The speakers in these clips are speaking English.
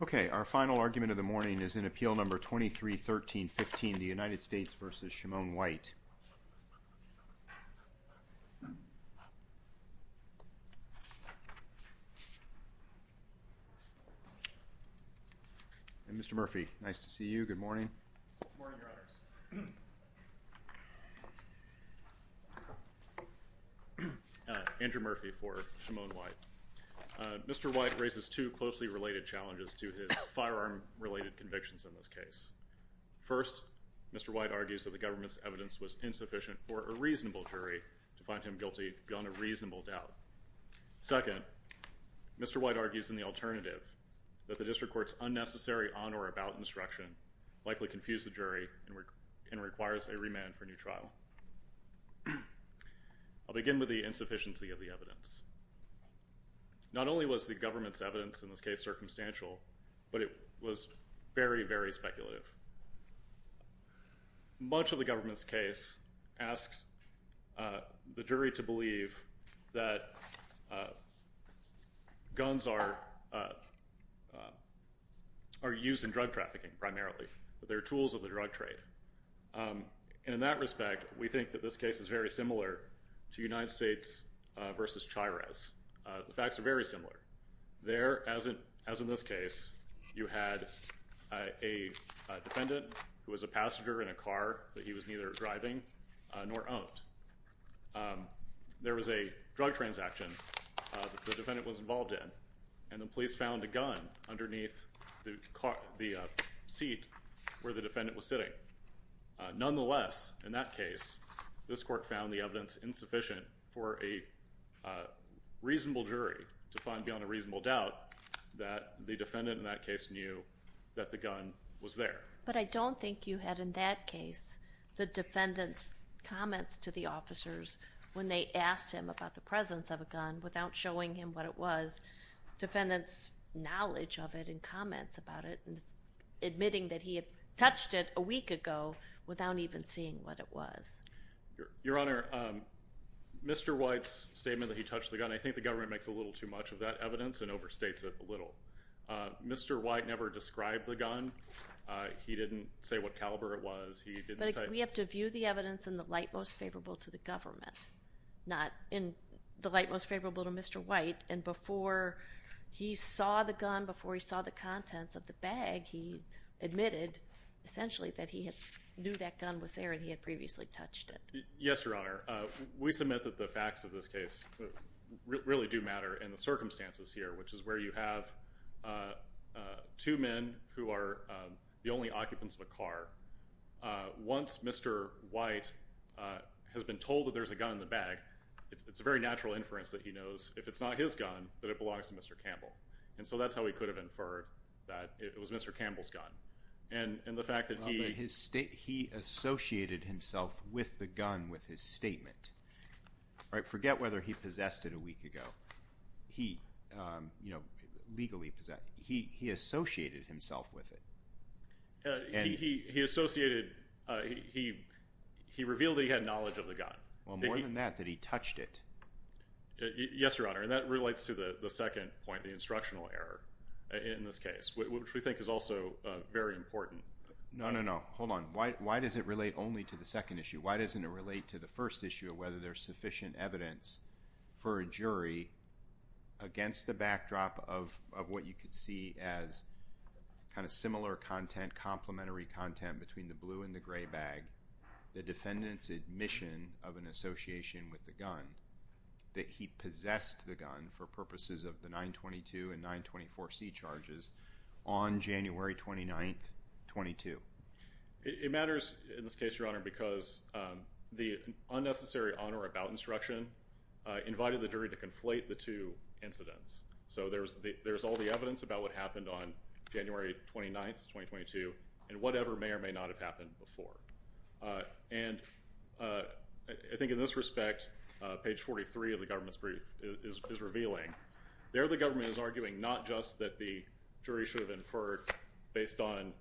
Okay, our final argument of the morning is in Appeal No. 23-13-15, the United States v. Shamone White. And Mr. Murphy, nice to see you. Good morning. Good morning, Your Honors. Andrew Murphy for Shamone White. Mr. White raises two closely related challenges to his firearm-related convictions in this case. First, Mr. White argues that the government's evidence was insufficient for a reasonable jury to find him guilty beyond a reasonable doubt. Second, Mr. White argues in the alternative that the district court's unnecessary on-or-about instruction likely confused the jury and requires a remand for a new trial. I'll begin with the insufficiency of the evidence. Not only was the government's case asks the jury to believe that guns are used in drug trafficking primarily. They're tools of the drug trade. And in that respect, we think that this case is very similar to United States v. Chires. The facts are very similar. There, as in this case, you had a defendant who was a passenger in a car that he was neither driving nor owned. There was a drug transaction that the defendant was involved in, and the police found a gun underneath the seat where the defendant was sitting. Nonetheless, in that case, this court found the evidence insufficient for a reasonable jury to find beyond a reasonable doubt that the defendant in that case knew that the gun was there. But I don't think you had in that case the defendant's comments to the officers when they asked him about the presence of a gun without showing him what it was. Defendant's knowledge of it and comments about it and admitting that he had touched it a week ago without even seeing what it was. Your Honor, Mr. White's statement that he touched the gun, I think the government makes a little too much of that evidence and overstates it a little. Mr. White never described the gun. He didn't say what caliber it was. But we have to view the evidence in the light most favorable to the government, not in the light most favorable to Mr. White. And before he saw the gun, before he saw the contents of the bag, he admitted essentially that he knew that gun was there and he had previously touched it. Yes, Your Honor. We submit that the facts of this case really do matter. And the circumstances here, which is where you have two men who are the only occupants of a car. Once Mr. White has been told that there's a gun in the bag, it's a very natural inference that he knows if it's not his gun that it belongs to Mr. Campbell. And so that's how he could have inferred that it was Mr. Campbell's gun. And the fact that he... He associated himself with the gun with his own... Forget whether he possessed it a week ago. He, you know, legally possessed it. He associated himself with it. He associated... He revealed that he had knowledge of the gun. Well, more than that, that he touched it. Yes, Your Honor. And that relates to the second point, the instructional error in this case, which we think is also very important. No, no, no. Hold on. Why does it relate only to the second issue? Why doesn't it relate to the first issue of whether there's sufficient evidence for a jury against the backdrop of what you could see as kind of similar content, complementary content between the blue and the gray bag, the defendant's admission of an association with the gun, that he possessed the gun for purposes of the 922 and 924C charges on January 29th, 22? It matters in this case, Your Honor, because the unnecessary honor about instruction invited the jury to conflate the two incidents. So there's all the evidence about what happened on January 29th, 2022, and whatever may or may not have happened before. And I think in this respect, page 43 of the government's brief is revealing. There the government is arguing not just that the jury should have inferred based on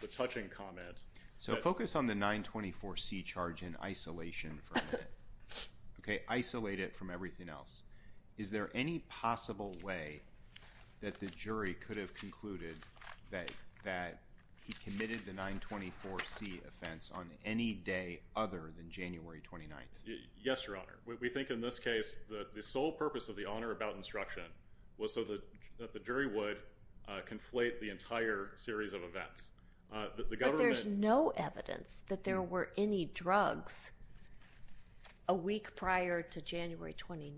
the touching comment. So focus on the 924C charge in isolation for a minute. Isolate it from everything else. Is there any possible way that the jury could have concluded that he committed the 924C offense on any day other than January 29th? Yes, Your Honor. We think in this case the sole purpose of the honor about instruction was so that the jury would conflate the entire series of events. But there's no evidence that there were any drugs a week prior to January 29th.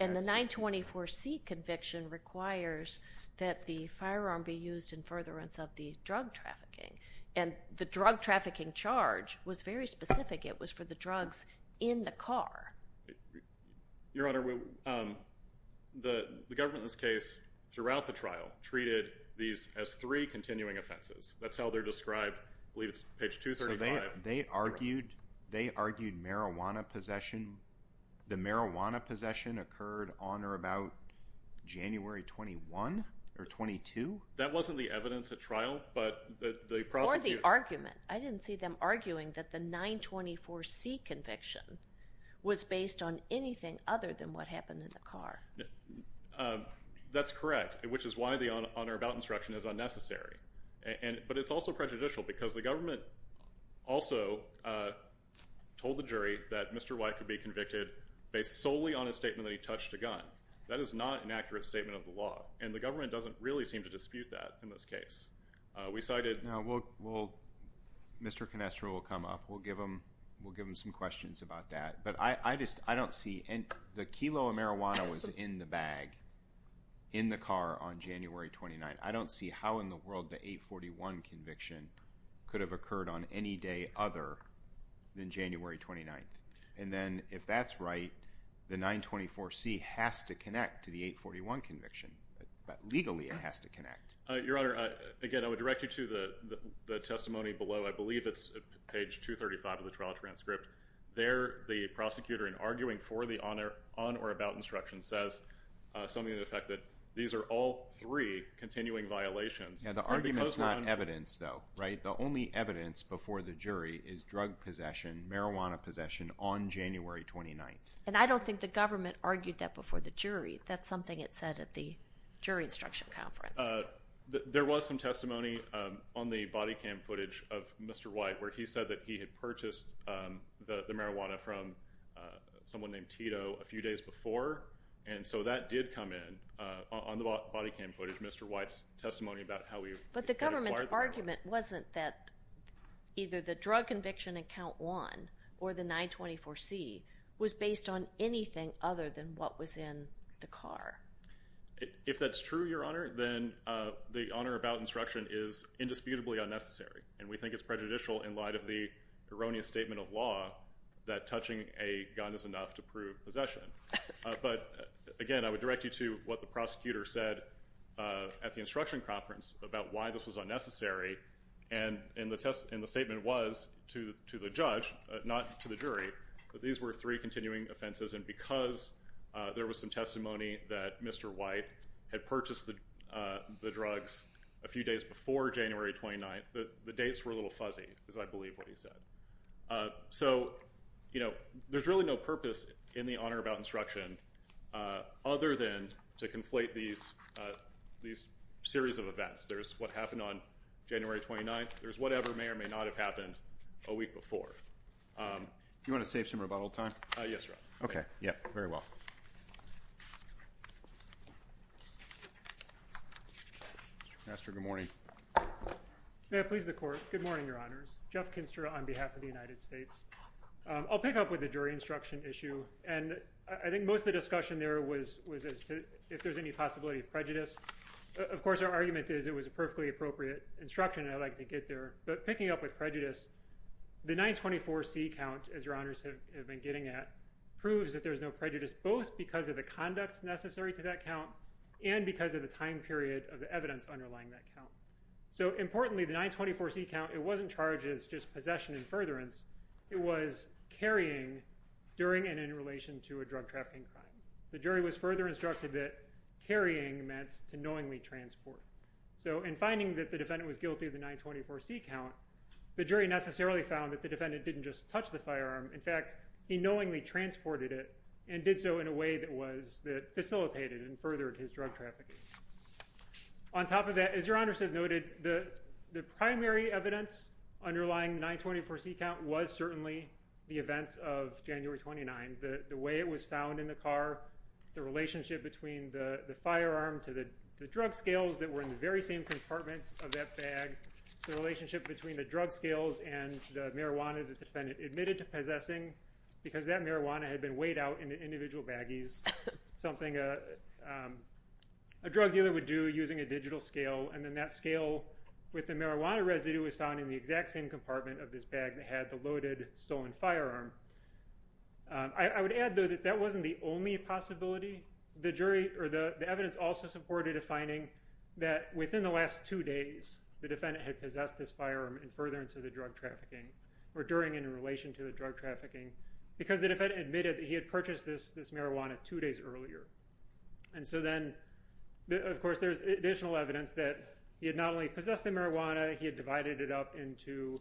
And the 924C conviction requires that the firearm be used in furtherance of the drug trafficking. And the drug trafficking charge was very specific. It was for the drugs in the car. Your Honor, the government in this case, throughout the trial, treated these as three continuing offenses. That's how they're described. I believe it's page 235. So they argued marijuana possession. The marijuana possession occurred on or about January 21 or 22? That wasn't the evidence at trial, but the prosecutor... other than what happened in the car. That's correct, which is why the honor about instruction is unnecessary. But it's also prejudicial because the government also told the jury that Mr. White could be convicted based solely on a statement that he touched a gun. That is not an accurate statement of the law. And the government doesn't really seem to dispute that in this case. We cited... Mr. Canestro will come up. We'll give him some questions about that. But I just don't see... the kilo of marijuana was in the bag in the car on January 29th. I don't see how in the world the 841 conviction could have occurred on any day other than January 29th. And then if that's right, the 924C has to connect to the 841 conviction. Legally, it has to connect. Your Honor, again, I would direct you to the testimony below. I believe it's page 235 of the trial transcript. There, the prosecutor, in arguing for the on or about instruction, says something to the effect that these are all three continuing violations. Yeah, the argument's not evidence, though, right? The only evidence before the jury is drug possession, marijuana possession, on January 29th. And I don't think the government argued that before the jury. That's something it said at the jury instruction conference. There was some testimony on the body cam footage of Mr. White where he said that he had purchased the marijuana from someone named Tito a few days before. And so that did come in on the body cam footage, Mr. White's testimony about how he acquired the marijuana. But the government's argument wasn't that either the drug conviction in Count 1 or the 924C was based on anything other than what was in the car. If that's true, Your Honor, then the on or about instruction is indisputably unnecessary. And we think it's prejudicial in light of the erroneous statement of law that touching a gun is enough to prove possession. But again, I would direct you to what the prosecutor said at the instruction conference about why this was unnecessary. And the statement was to the judge, not to the jury, that these were three continuing offenses. And because there was some testimony that Mr. White had purchased the drugs a few days before January 29th, the dates were a little fuzzy is, I believe, what he said. So, you know, there's really no purpose in the on or about instruction other than to conflate these series of events. There's what happened on January 29th. There's whatever may or may not have happened a week before. You want to save some rebuttal time? Yes, Your Honor. Okay. Yeah. Very well. Master, good morning. May it please the Court. Good morning, Your Honors. Jeff Kinster on behalf of the United States. I'll pick up with the jury instruction issue. And I think most of the discussion there was as to if there's any possibility of prejudice. Of course, our argument is it was a perfectly appropriate instruction, and I'd like to get there. But picking up with prejudice, the 924C count, as Your Honors have been getting at, proves that there's no prejudice, both because of the conduct necessary to that count and because of the time period of the evidence underlying that count. So, importantly, the 924C count, it wasn't charged as just possession and furtherance. It was carrying during and in relation to a drug trafficking crime. The jury was further instructed that carrying meant to knowingly transport. So in finding that the defendant was guilty of the 924C count, the jury necessarily found that the defendant didn't just touch the firearm. In fact, he knowingly transported it and did so in a way that facilitated and furthered his drug trafficking. On top of that, as Your Honors have noted, the primary evidence underlying the 924C count was certainly the events of January 29. The way it was found in the car, the relationship between the firearm to the drug scales that were in the very same compartment of that bag, the relationship between the drug scales and the marijuana the defendant admitted to possessing, because that marijuana had been weighed out in the individual baggies, something a drug dealer would do using a digital scale. And then that scale with the marijuana residue was found in the exact same compartment of this bag that had the loaded, stolen firearm. I would add, though, that that wasn't the only possibility. The evidence also supported a finding that within the last two days, the defendant had possessed this firearm in furtherance of the drug trafficking or during and in relation to the drug trafficking, because the defendant admitted that he had purchased this marijuana two days earlier. And so then, of course, there's additional evidence that he had not only possessed the firearm, but added it up into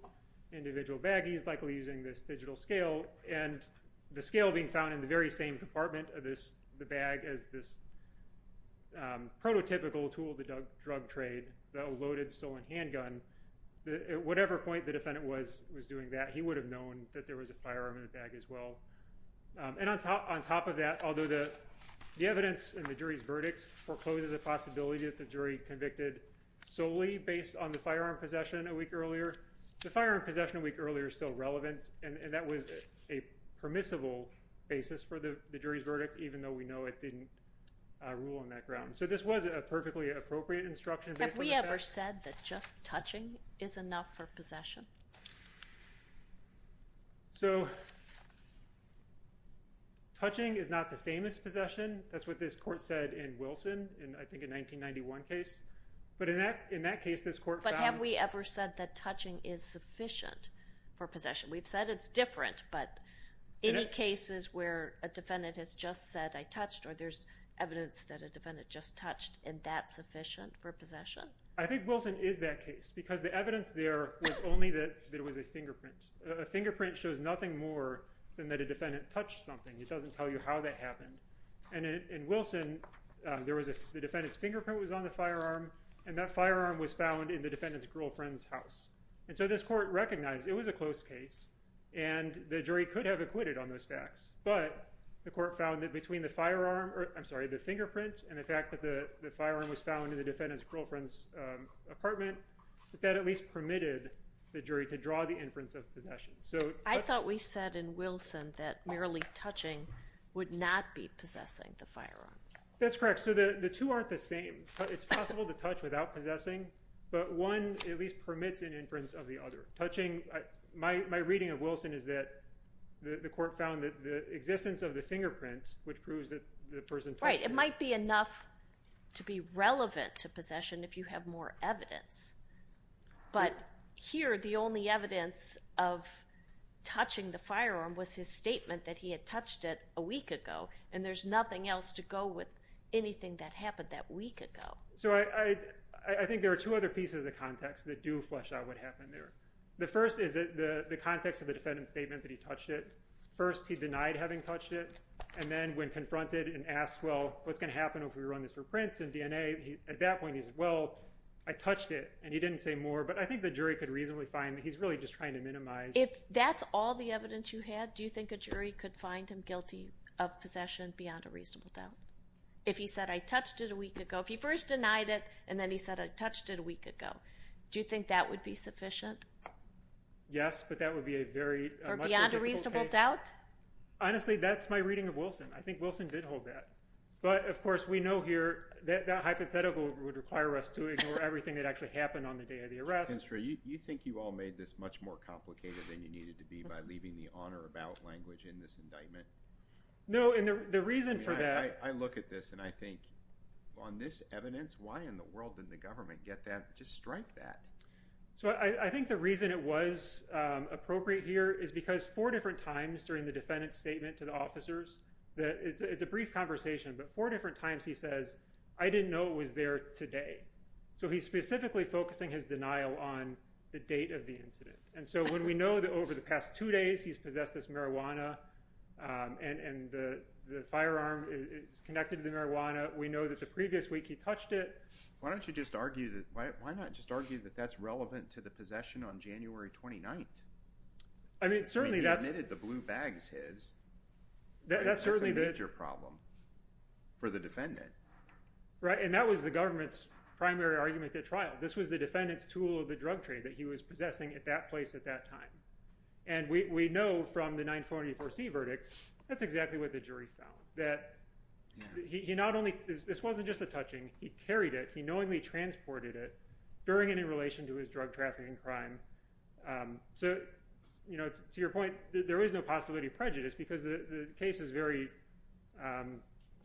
individual baggies, likely using this digital scale. And the scale being found in the very same compartment of the bag as this prototypical tool of the drug trade, the loaded, stolen handgun, at whatever point the defendant was doing that, he would have known that there was a firearm in the bag as well. And on top of that, although the evidence in the jury's verdict forecloses a possibility that the jury convicted solely based on the firearm possession a week earlier, the firearm possession a week earlier is still relevant, and that was a permissible basis for the jury's verdict, even though we know it didn't rule on that ground. So this was a perfectly appropriate instruction. Have we ever said that just touching is enough for possession? So, touching is not the same as possession. That's what this court said in Wilson in, I think, a 1991 case. But in that case, this court found... But have we ever said that touching is sufficient for possession? We've said it's different, but in the cases where a defendant has just said, I touched, or there's evidence that a defendant just touched, and that's sufficient for possession? I think Wilson is that case, because the evidence there was only that it was a fingerprint. A fingerprint shows nothing more than that a defendant touched something. It doesn't tell you how that happened. And in Wilson, the defendant's fingerprint was on the firearm, and that firearm was found in the defendant's girlfriend's house. And so this court recognized it was a close case, and the jury could have acquitted on those facts, but the court found that between the fingerprint and the fact that the firearm was found in the defendant's girlfriend's apartment, that that at least permitted the jury to draw the inference of possession. I thought we said in Wilson that merely touching would not be possessing the firearm. That's correct. So the two aren't the same. It's possible to touch without possessing, but one at least permits an inference of the other. Touching... My reading of Wilson is that the court found that the existence of the fingerprint, which proves that the person touched... Right. It might be enough to be relevant to possession if you have more evidence. But here, the only evidence of touching the firearm was his statement that he had touched it a week ago, and there's nothing else to go with anything that happened that week ago. So I think there are two other pieces of context that do flesh out what happened there. The first is the context of the defendant's statement that he touched it. First, he denied having touched it, and then when confronted and asked, well, what's going to happen if we run this for prints and DNA? At that point, he said, well, I touched it, and he didn't say more. But I think the jury could reasonably find that he's really just trying to minimize... If that's all the evidence you had, do you think a jury could find him guilty of possession beyond a reasonable doubt? If he said, I touched it a week ago, if he first denied it, and then he said, I touched it a week ago, do you think that would be sufficient? Yes, but that would be a very... For beyond a reasonable doubt? Honestly, that's my reading of Wilson. I think Wilson did hold that. But, of course, we know here that that hypothetical would require us to ignore everything that actually happened on the day of the arrest. You think you all made this much more complicated than you needed to be by leaving the on or about language in this indictment? No, and the reason for that... I look at this, and I think, on this evidence, why in the world didn't the government get that, just strike that? So I think the reason it was appropriate here is because four different times during the conversation, but four different times he says, I didn't know it was there today. So he's specifically focusing his denial on the date of the incident. And so when we know that over the past two days he's possessed this marijuana, and the firearm is connected to the marijuana, we know that the previous week he touched it. Why don't you just argue that... Why not just argue that that's relevant to the possession on January 29th? I mean, certainly that's... He admitted the blue bags his. That's certainly the... For the defendant. Right, and that was the government's primary argument at trial. This was the defendant's tool of the drug trade that he was possessing at that place at that time. And we know from the 944C verdict, that's exactly what the jury found. That he not only... This wasn't just a touching. He carried it. He knowingly transported it, during and in relation to his drug trafficking crime. So, to your point, there is no possibility of prejudice, because the case is very...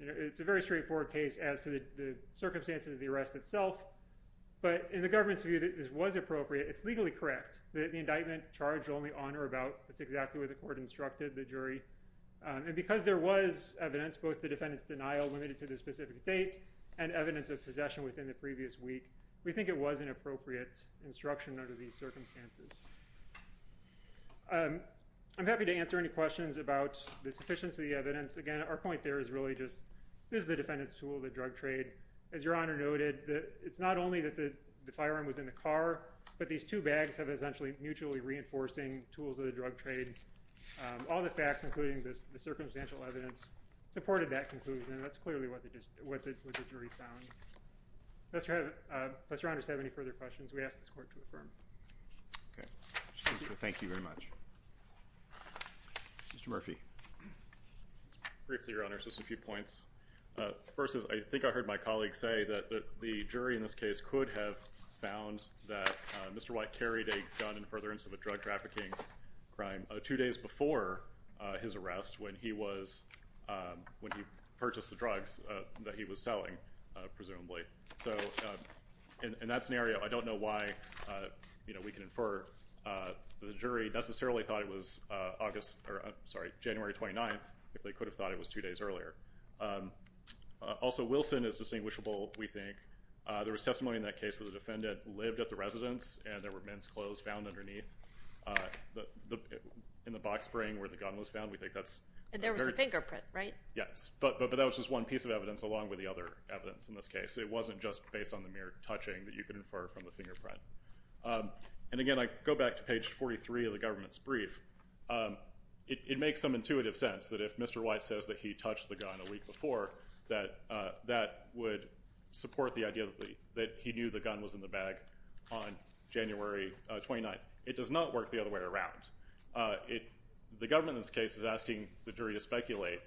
It's a very straightforward case as to the circumstances of the arrest itself. But in the government's view, this was appropriate. It's legally correct. The indictment charged only on or about. That's exactly what the court instructed the jury. And because there was evidence, both the defendant's denial limited to the specific date, and evidence of possession within the previous week, we think it was an appropriate instruction under these circumstances. I'm happy to answer any questions about the sufficiency of the evidence. Again, our point there is really just, this is the defendant's tool of the drug trade. As your Honor noted, it's not only that the firearm was in the car, but these two bags have essentially mutually reinforcing tools of the drug trade. All the facts, including the circumstantial evidence, supported that conclusion. That's clearly what the jury found. Does your Honor have any further questions? We ask this court to affirm. Okay. Thank you very much. Mr. Murphy. Briefly, Your Honor, just a few points. First is I think I heard my colleague say that the jury in this case could have found that Mr. White carried a gun in furtherance of a drug trafficking crime two days before his arrest, when he purchased the drugs that he was selling, presumably. In that scenario, I don't know why we can infer that the jury necessarily thought it was January 29th, if they could have thought it was two days earlier. Also, Wilson is distinguishable, we think. There was testimony in that case that the defendant lived at the residence and there were men's clothes found underneath in the box spring where the gun was found. There was a fingerprint, right? Yes, but that was just one piece of evidence along with the other evidence in this case. It wasn't just based on the mere touching that you could infer from the fingerprint. And again, I go back to page 43 of the government's brief. It makes some intuitive sense that if Mr. White says that he touched the gun a week before, that that would support the idea that he knew the gun was in the bag on January 29th. It does not work the other way around. The government in this case is asking the jury to speculate,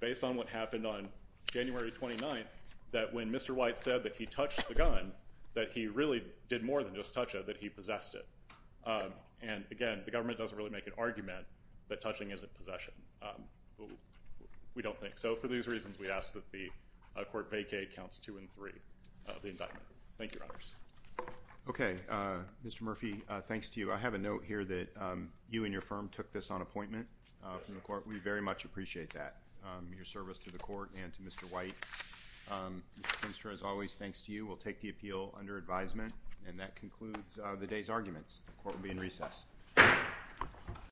based on what happened on January 29th, that when Mr. White said that he touched the gun, that he really did more than just touch it, that he possessed it. And again, the government doesn't really make an argument that touching isn't possession. We don't think so. For these reasons, we ask that the court vacate Counts 2 and 3 of the indictment. Thank you, Your Honors. Okay. Mr. Murphy, thanks to you. We very much appreciate that, your service to the court and to Mr. White. Mr. Kinstra, as always, thanks to you. We'll take the appeal under advisement. And that concludes the day's arguments. The court will be in recess.